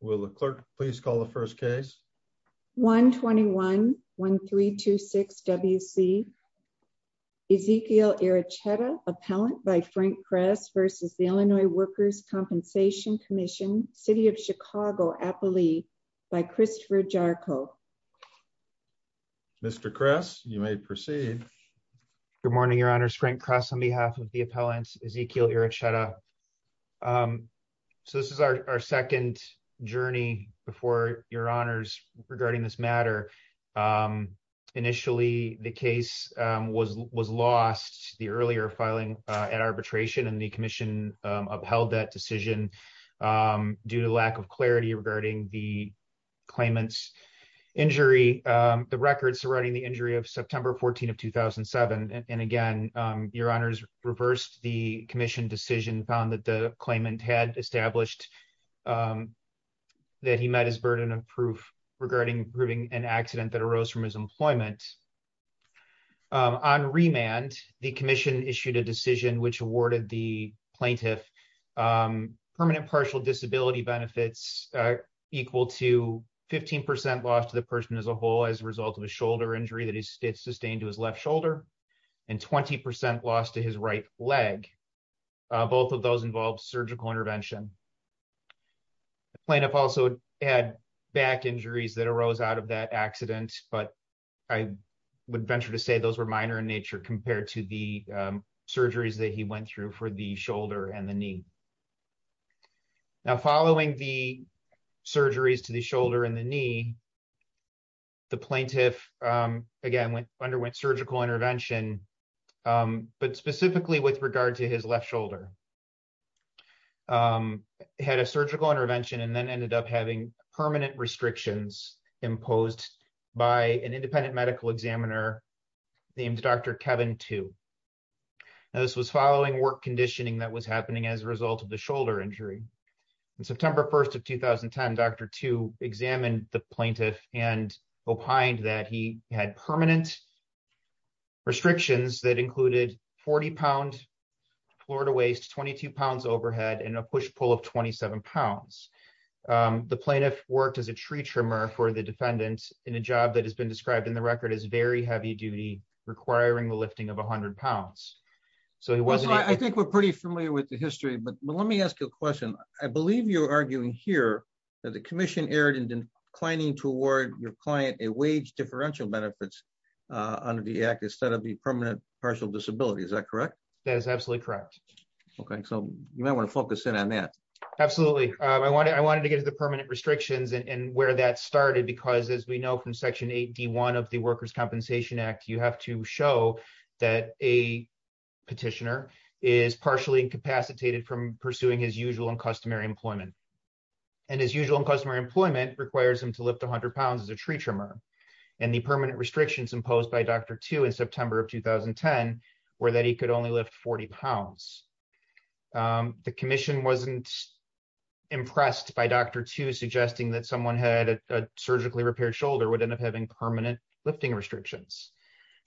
Will the clerk please call the first case? 121-1326-WC Ezekiel Aracheta, appellant by Frank Kress v. Illinois Workers' Compensation Comm'n, City of Chicago, Appalachia, by Christopher Jarko. Mr. Kress, you may proceed. Good morning, your honors. Frank Kress on behalf of the appellants, Ezekiel Aracheta. So this is our second journey before your honors regarding this matter. Initially, the case was lost, the earlier filing at arbitration, and the commission upheld that decision due to lack of clarity regarding the claimant's injury, the records surrounding the claimant had established that he met his burden of proof regarding proving an accident that arose from his employment. On remand, the commission issued a decision which awarded the plaintiff permanent partial disability benefits equal to 15% loss to the person as a whole as a result of a shoulder injury that he sustained to his left shoulder and 20% loss to his right leg, both of those involved surgical intervention. The plaintiff also had back injuries that arose out of that accident, but I would venture to say those were minor in nature compared to the surgeries that he went through for the shoulder and the knee. Now following the surgeries to the shoulder and the knee, the plaintiff again underwent surgical intervention, but specifically with regard to his left shoulder, had a surgical intervention and then ended up having permanent restrictions imposed by an independent medical examiner named Dr. Kevin Tu. Now this was following work conditioning that was happening as a result of the shoulder injury. On September 1st of 2010, Dr. Tu examined the plaintiff and opined that he had permanent restrictions that included 40 pound floor-to-waist, 22 pounds overhead, and a push-pull of 27 pounds. The plaintiff worked as a tree trimmer for the defendant in a job that has been described in the record as very heavy duty, requiring the lifting of 100 pounds. So he wasn't... I think we're pretty familiar with the history, but let me ask you a question. I believe you're arguing here that the commission erred in declining to award your client a wage differential benefits under the act instead of the permanent partial disability. Is that correct? That is absolutely correct. Okay, so you might want to focus in on that. Absolutely. I wanted to get to the permanent restrictions and where that started because as we know from Section 8D1 of the Workers' Compensation Act, you have to show that a petitioner is partially incapacitated from pursuing his usual and customary employment. And his usual and customary employment requires him to lift 100 pounds as a tree trimmer. And the permanent restrictions imposed by Dr. Tu in September of 2010 were that he could only lift 40 pounds. The commission wasn't impressed by Dr. Tu suggesting that someone had a surgically repaired shoulder would end up having permanent lifting restrictions.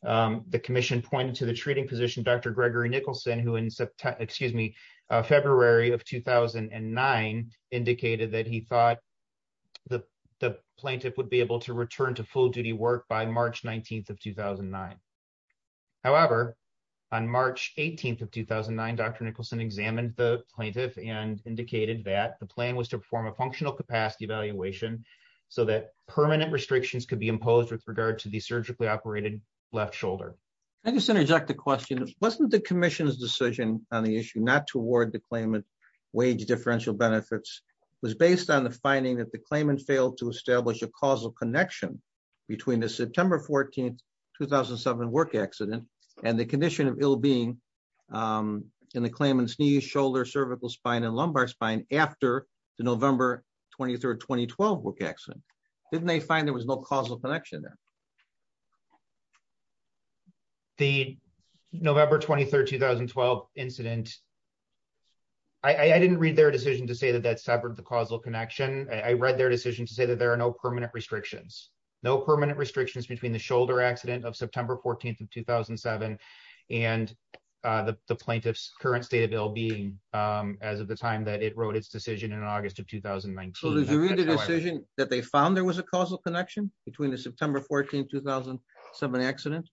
The commission pointed to treating physician Dr. Gregory Nicholson who in February of 2009 indicated that he thought the plaintiff would be able to return to full duty work by March 19th of 2009. However, on March 18th of 2009, Dr. Nicholson examined the plaintiff and indicated that the plan was to perform a functional capacity evaluation so that permanent restrictions could be imposed with regard to the surgically operated left shoulder. Can I just interject a question? Wasn't the commission's decision on the issue not to award the claimant wage differential benefits was based on the finding that the claimant failed to establish a causal connection between the September 14th, 2007 work accident and the condition of ill-being in the claimant's knee, shoulder, cervical spine, and lumbar spine after the November 23rd, 2012 work accident? Didn't they find there was no causal connection there? The November 23rd, 2012 incident, I didn't read their decision to say that that severed the causal connection. I read their decision to say that there are no permanent restrictions. No permanent restrictions between the shoulder accident of September 14th of 2007 and the plaintiff's current state of ill-being as of the time that it wrote its decision in August of 2019. So did you read the decision that they found there was a causal connection between the September 14th, 2007 accident?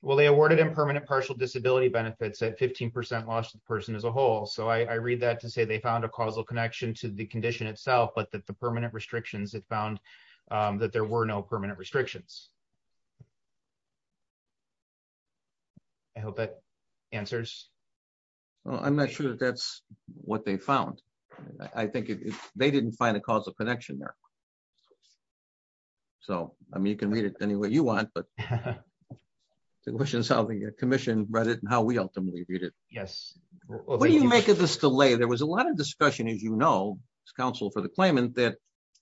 Well, they awarded impermanent partial disability benefits at 15% loss to the person as a whole. So I read that to say they found a causal connection to the condition itself, but that the permanent restrictions, it found that there were no permanent restrictions. I hope that answers. Well, I'm not sure that that's what they found. I think they didn't find a causal connection there. So, I mean, you can read it any way you want, but the question is how the commission read it and how we ultimately read it. Yes. What do you make of this delay? There was a lot of discussion, as you know, as counsel for the claimant, that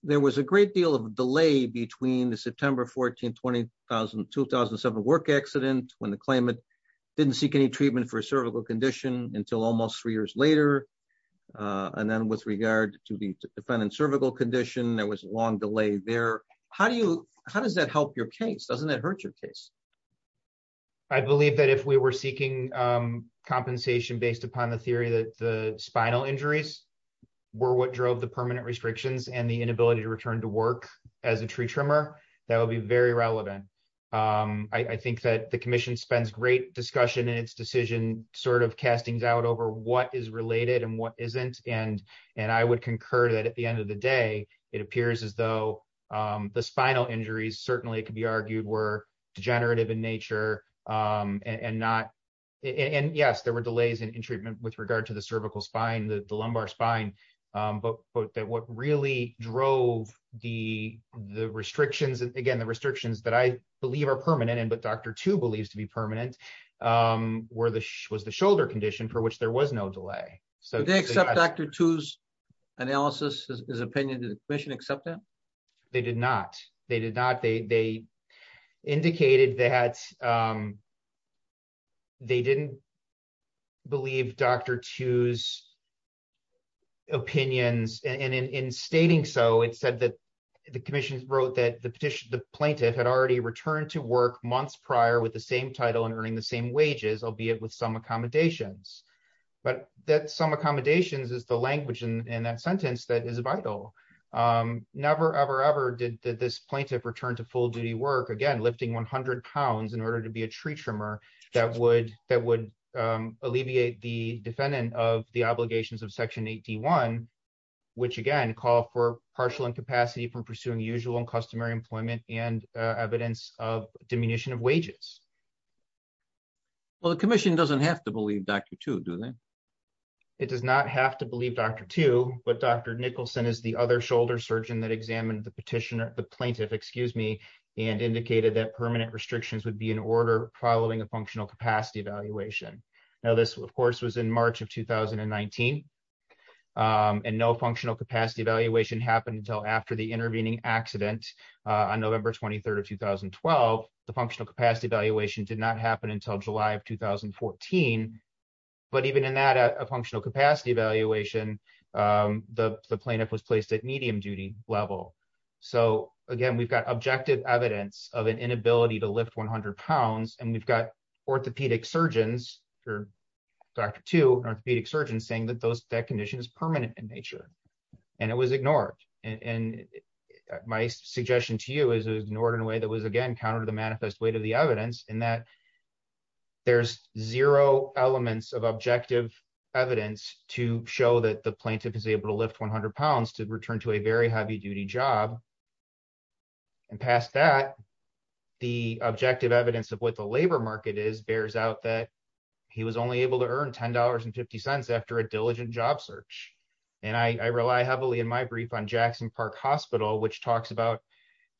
there was a great deal of delay between the September 14th, 2007 work accident when the claimant didn't seek any treatment for a cervical condition until almost three years later. And then with regard to the defendant's cervical condition, there was a long delay there. How does that help your case? Doesn't that hurt your case? I believe that if we were seeking compensation based upon the theory that the spinal injuries were what drove the permanent restrictions and the inability to return to work as a tree trimmer, that would be very relevant. I think that the commission spends great discussion in its decision sort of castings out over what is related and what isn't. And I would concur that at the end of the day, it appears as though the spinal injuries certainly could be argued were degenerative in nature and not. And yes, there were delays in treatment with regard to the cervical spine, the lumbar spine. But what really drove the restrictions and again, the restrictions that I believe are permanent and what Dr. Tu believes to be permanent was the shoulder condition for which there was no delay. Did they accept Dr. Tu's analysis, his opinion? Did the commission accept that? They did not. They did not. They indicated that they didn't believe Dr. Tu's opinions. And in stating so, it said that the commission wrote that the plaintiff had already returned to work months prior with the same title and earning the same wages, albeit with some accommodations. But that some accommodations is the language in that sentence that is vital. Never, ever, ever did this plaintiff return to full duty work, again, lifting 100 pounds in order to be a tree trimmer that would alleviate the defendant of the obligations of Section 8D1, which again, call for partial incapacity from pursuing usual and customary employment and evidence of diminution of wages. Well, the commission doesn't have to believe Dr. Tu, then? It does not have to believe Dr. Tu, but Dr. Nicholson is the other shoulder surgeon that examined the petitioner, the plaintiff, excuse me, and indicated that permanent restrictions would be in order following a functional capacity evaluation. Now, this of course, was in March of 2019 and no functional capacity evaluation happened until after the intervening accident on November 23rd of 2012. The functional capacity evaluation did not happen until July of 2014, but even in that functional capacity evaluation, the plaintiff was placed at medium duty level. So again, we've got objective evidence of an inability to lift 100 pounds and we've got orthopedic surgeons, Dr. Tu, orthopedic surgeons saying that that condition is permanent in nature and it was ignored. And my suggestion to you is it was ignored in a way that was again, counter to the manifest weight of the evidence in that there's zero elements of objective evidence to show that the plaintiff is able to lift 100 pounds to return to a very heavy duty job. And past that, the objective evidence of what the labor market is bears out that he was only able to earn $10 and 50 cents after a diligent job search. And I rely heavily in my brief on Jackson Park Hospital, which talks about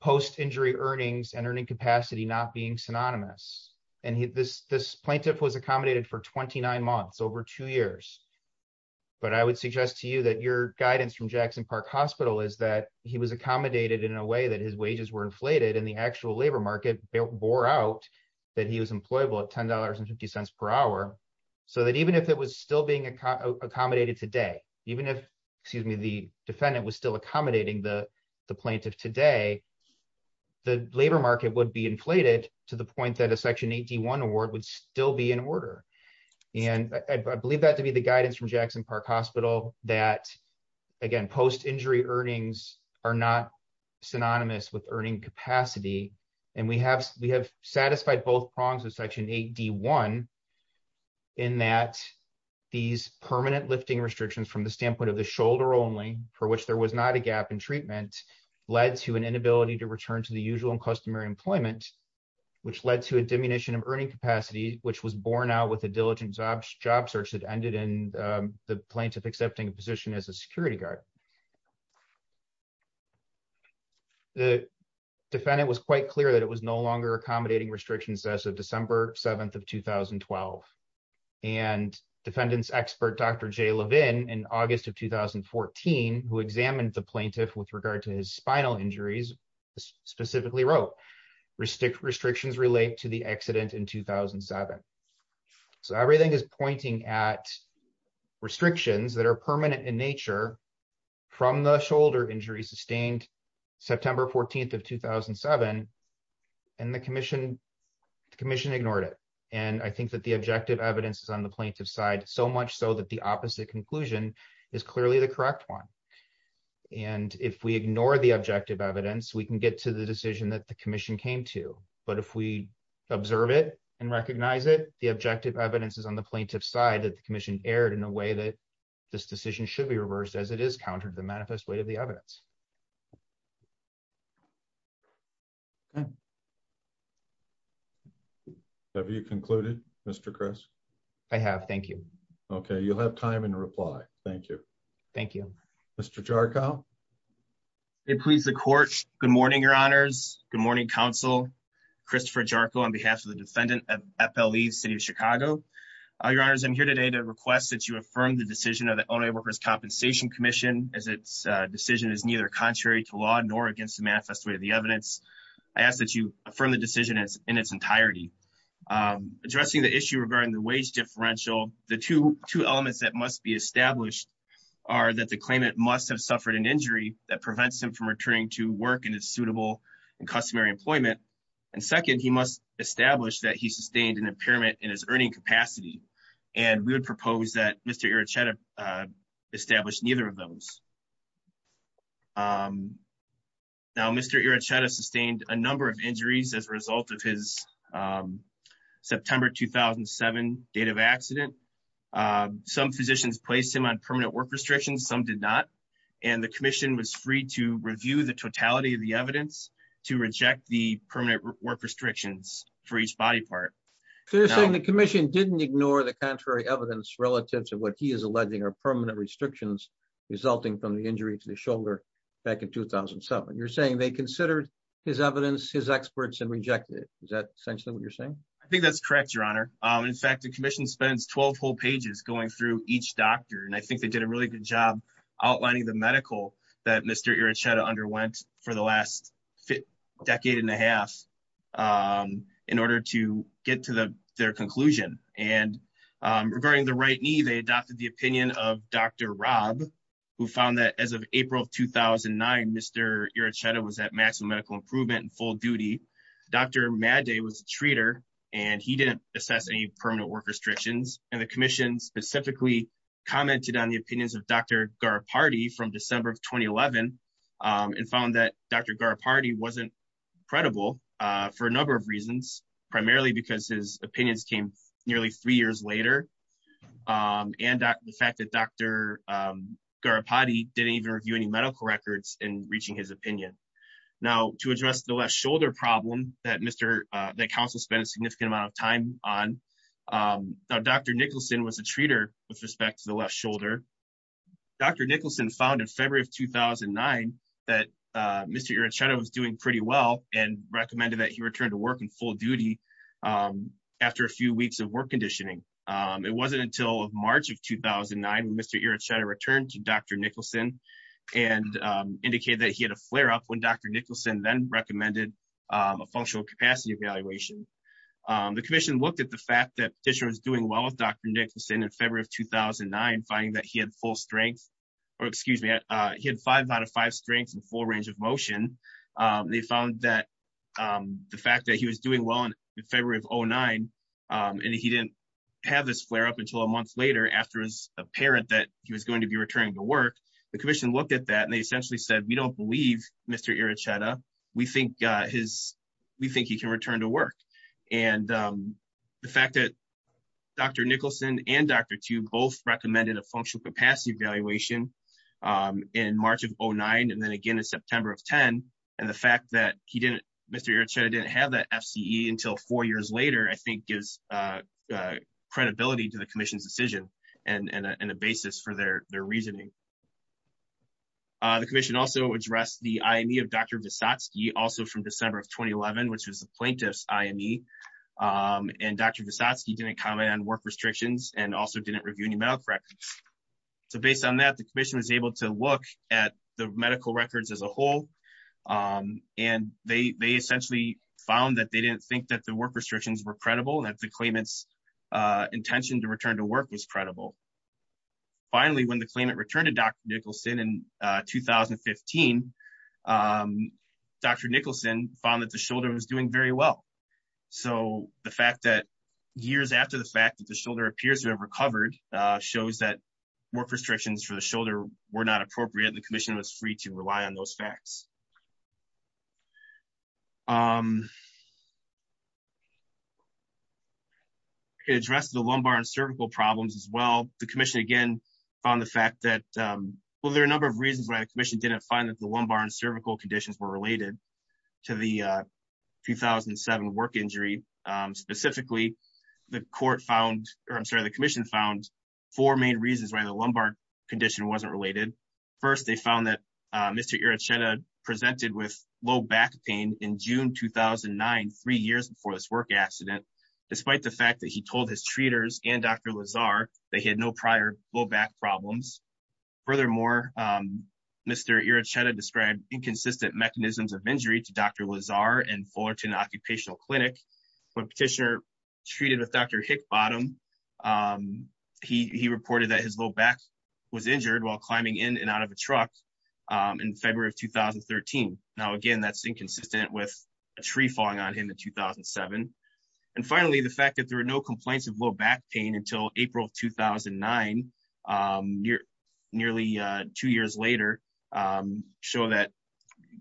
post-injury earnings and earning capacity, not being synonymous. And this plaintiff was accommodated for 29 months, over two years. But I would suggest to you that your guidance from Jackson Park Hospital is that he was accommodated in a way that his wages were inflated and the actual labor market bore out that he was employable at $10 and 50 cents per hour. So that even if it was still being accommodated today, even if, excuse me, the defendant was still accommodating the plaintiff today, the labor market would be inflated to the point that a Section 8D1 award would still be in order. And I believe that to be the guidance from Jackson Park Hospital that again, post-injury earnings are not synonymous with earning capacity. And we have satisfied both prongs of Section 8D1 in that these permanent lifting restrictions from the standpoint of the shoulder only, for which there was not a gap in treatment, led to an inability to return to the usual and customary employment, which led to a diminution of earning capacity, which was borne out with a diligent job job search that ended in the plaintiff accepting a position as a security guard. The defendant was quite clear that it was no longer accommodating restrictions as of December 7th of 2012. And defendant's expert, Dr. Jay Levin, in August of 2014, who examined the plaintiff with regard to his spinal injuries, specifically wrote, restrictions relate to the accident in 2007. So everything is pointing at restrictions that are permanent in nature from the shoulder injury sustained September 14th of 2007. And the commission ignored it. And I think that the objective evidence is on the plaintiff's side, so much so that the opposite conclusion is clearly the correct one. And if we ignore the objective evidence, we can get to the decision that the commission came to. But if we observe it and recognize it, the objective evidence is on the plaintiff's side that the commission erred in a way that this decision should be reversed as it is counter to the manifest way of the evidence. Have you concluded Mr. Chris? I have. Thank you. Okay, you'll have time in reply. Thank you. Thank you, Mr. Jarkow. It please the court. Good morning, your honors. Good morning, counsel. Christopher Jarkow on behalf of the defendant of FLE city of Chicago. Your honors, I'm here today to request that you commission as its decision is neither contrary to law nor against the manifest way of the evidence. I ask that you affirm the decision in its entirety. Addressing the issue regarding the wage differential, the two elements that must be established are that the claimant must have suffered an injury that prevents him from returning to work in a suitable and customary employment. And second, he must establish that he sustained an impairment in his earning capacity. And we would propose that Mr. Erichetta established neither of those. Now, Mr. Erichetta sustained a number of injuries as a result of his September 2007 date of accident. Some physicians placed him on permanent work restrictions, some did not. And the commission was free to review the totality of the evidence to reject the permanent work restrictions for each body part. So you're saying the commission didn't ignore the contrary evidence relative to what he is alleging are permanent restrictions resulting from the injury to the shoulder back in 2007. You're saying they considered his evidence, his experts and rejected it. Is that essentially what you're saying? I think that's correct, your honor. In fact, the commission spends 12 whole pages going through each doctor. And I think they did a really good job outlining the medical that Mr. Erichetta underwent for the last decade and a half in order to get to their conclusion. And regarding the right knee, they adopted the opinion of Dr. Rob, who found that as of April of 2009, Mr. Erichetta was at maximum medical improvement and full duty. Dr. Madday was a treater and he didn't assess any permanent work restrictions. And the commission specifically commented on the opinions of Dr. Garopardi from for a number of reasons, primarily because his opinions came nearly three years later. And the fact that Dr. Garopardi didn't even review any medical records in reaching his opinion. Now to address the left shoulder problem that council spent a significant amount of time on, Dr. Nicholson was a treater with respect to the left shoulder. Dr. Nicholson found in February of 2009 that Mr. Erichetta was doing pretty well and recommended that he returned to work in full duty after a few weeks of work conditioning. It wasn't until March of 2009 when Mr. Erichetta returned to Dr. Nicholson and indicated that he had a flare up when Dr. Nicholson then recommended a functional capacity evaluation. The commission looked at the fact that this was doing well with in February of 2009, finding that he had full strength or excuse me, he had five out of five strengths and full range of motion. They found that the fact that he was doing well in February of 09 and he didn't have this flare up until a month later after it was apparent that he was going to be returning to work. The commission looked at that and they essentially said, we don't believe Mr. Erichetta. We think he can return to work. And the fact that Dr. Nicholson and Dr. Tube both recommended a functional capacity evaluation in March of 09 and then again in September of 10. And the fact that he didn't, Mr. Erichetta didn't have that FCE until four years later, I think gives credibility to the commission's decision and a basis for their reasoning. The commission also addressed the IME of Dr. Visotsky also from work restrictions and also didn't review any medical records. So based on that, the commission was able to look at the medical records as a whole. And they essentially found that they didn't think that the work restrictions were credible and that the claimants intention to return to work was credible. Finally, when the claimant returned to Dr. Nicholson in 2015, Dr. Nicholson found that the shoulder was doing very well. So the fact that years after the fact that the shoulder appears to have recovered shows that work restrictions for the shoulder were not appropriate. The commission was free to rely on those facts. It addressed the lumbar and cervical problems as well. The commission again found the fact that, well, there are a number of reasons why the commission didn't find that the lumbar and 2007 work injury. Specifically, the commission found four main reasons why the lumbar condition wasn't related. First, they found that Mr. Iracheta presented with low back pain in June 2009, three years before this work accident, despite the fact that he told his treaters and Dr. Lazar that he had no prior low back problems. Furthermore, Mr. Iracheta described inconsistent mechanisms of injury to Dr. Lazar and Fullerton Occupational Clinic. When petitioner treated with Dr. Hickbottom, he reported that his low back was injured while climbing in and out of a truck in February of 2013. Now, again, that's inconsistent with a tree falling on him in 2007. And finally, the fact that there were no complaints of low back pain until April of 2009, nearly two years later,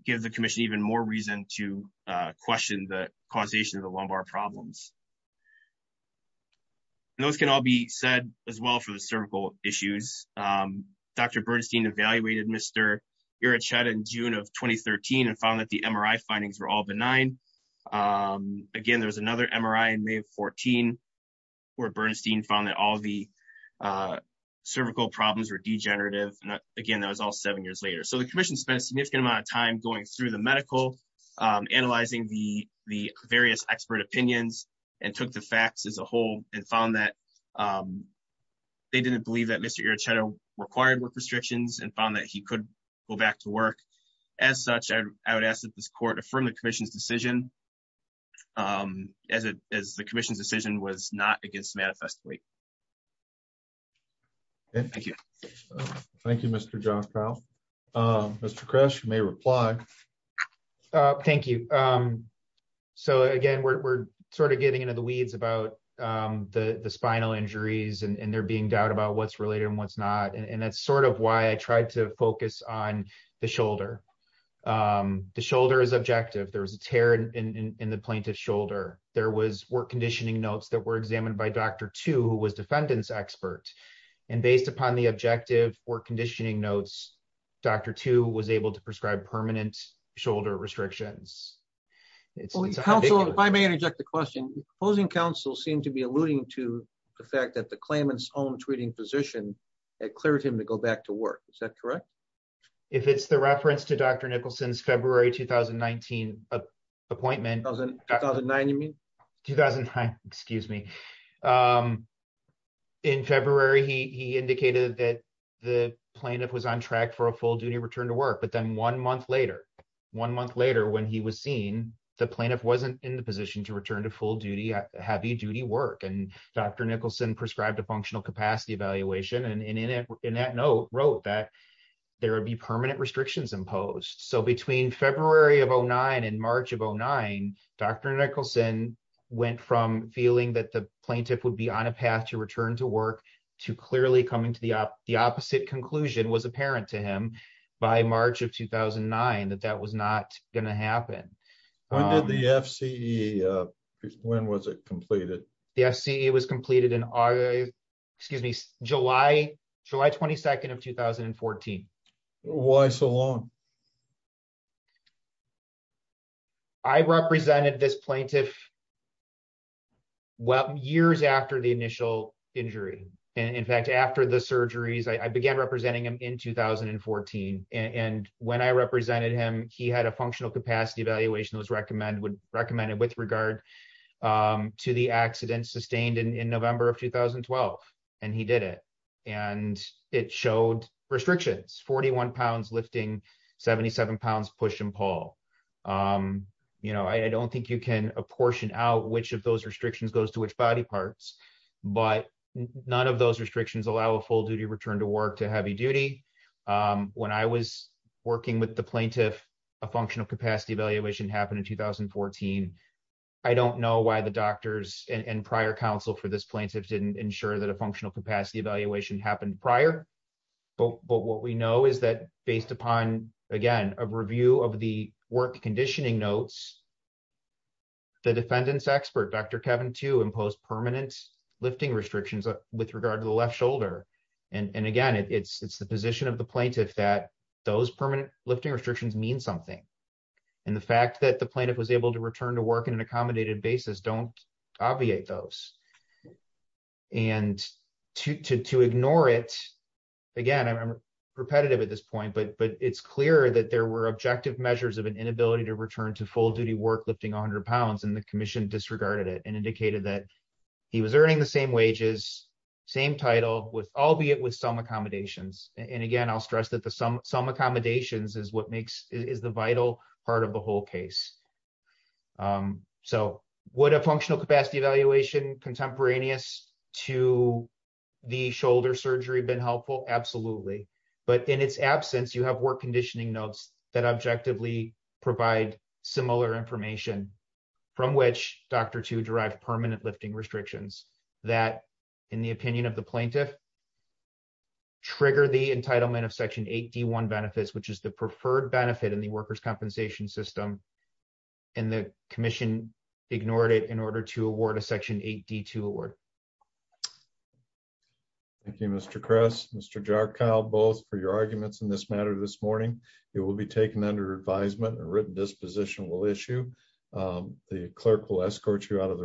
give the commission even more reason to question the causation of the lumbar problems. Those can all be said as well for the cervical issues. Dr. Bernstein evaluated Mr. Iracheta in June of 2013 and found that the MRI findings were all benign. Again, there was another MRI in May of 2014 where Bernstein found that all the cervical problems were degenerative. And again, that was all seven years later. So the commission spent a significant amount of time going through the medical, analyzing the various expert opinions and took the facts as a whole and found that they didn't believe that Mr. Iracheta required work restrictions and found that he could go back to work. As such, I would ask that this be considered a decision as the commission's decision was not against manifest weight. Okay, thank you. Thank you, Mr. John Kyle. Mr. Kress, you may reply. Thank you. So again, we're sort of getting into the weeds about the spinal injuries and there being doubt about what's related and what's not. And that's sort of why I tried to focus on the shoulder. The shoulder is in the plaintiff's shoulder. There was work conditioning notes that were examined by Dr. Two, who was defendant's expert. And based upon the objective or conditioning notes, Dr. Two was able to prescribe permanent shoulder restrictions. If I may interject the question, opposing counsel seem to be alluding to the fact that the claimant's own treating physician had cleared him to go back to work. Is that correct? If it's the reference to Dr. Nicholson's February 2019 appointment. 2009, you mean? 2009, excuse me. In February, he indicated that the plaintiff was on track for a full duty return to work. But then one month later, one month later when he was seen, the plaintiff wasn't in the position to return to full duty, heavy duty work. And Dr. Nicholson prescribed a functional capacity evaluation and in that note wrote that there would be permanent restrictions imposed. So between February of 09 and March of 09, Dr. Nicholson went from feeling that the plaintiff would be on a path to return to work to clearly coming to the opposite conclusion was apparent to him by March of 2009, that that was not going to happen. When did the FCE, when was it completed? The FCE was completed in August, excuse me, July, July 22nd of 2014. Why so long? I represented this plaintiff years after the initial injury. And in fact, after the surgeries, I began representing him in 2014. And when I represented him, he had a functional capacity evaluation that was recommended with regard to the accident sustained in November of 2012, and he did it. And it showed restrictions, 41 pounds lifting, 77 pounds push and pull. I don't think you can apportion out which of those restrictions goes to which body parts, but none of those restrictions allow a full duty return to work to heavy duty. When I was working with the plaintiff, a functional capacity evaluation happened in 2014. I don't know why the doctors and prior counsel for this plaintiff didn't ensure that a functional capacity evaluation happened prior. But what we know is that based upon, again, a review of the work conditioning notes, the defendants expert, Dr. Kevin too, imposed permanent lifting restrictions with regard to the left shoulder. And again, it's the position of the plaintiff that those permanent lifting restrictions mean something. And the fact that the plaintiff was able to return to work in an accommodated basis, don't obviate those. And to ignore it, again, I'm repetitive at this point, but it's clear that there were objective measures of an inability to return to full duty work lifting 100 pounds and the commission disregarded it and indicated that he was earning the same wages, same title with albeit with some accommodations. And again, I'll stress that some accommodations is the vital part of the whole case. So would a functional capacity evaluation contemporaneous to the shoulder surgery been helpful? Absolutely. But in its absence, you have work conditioning notes that objectively provide similar information from which Dr. Two derived permanent lifting restrictions that in the opinion of the plaintiff, trigger the entitlement of Section 8D1 benefits, which is the preferred benefit in the workers' compensation system. And the commission ignored it in order to award a Section 8D2 award. Thank you, Mr. Kress, Mr. Jarkow, both for your arguments in this matter this morning, it will be taken under advisement and a written disposition will issue. The clerk will escort you out of the room.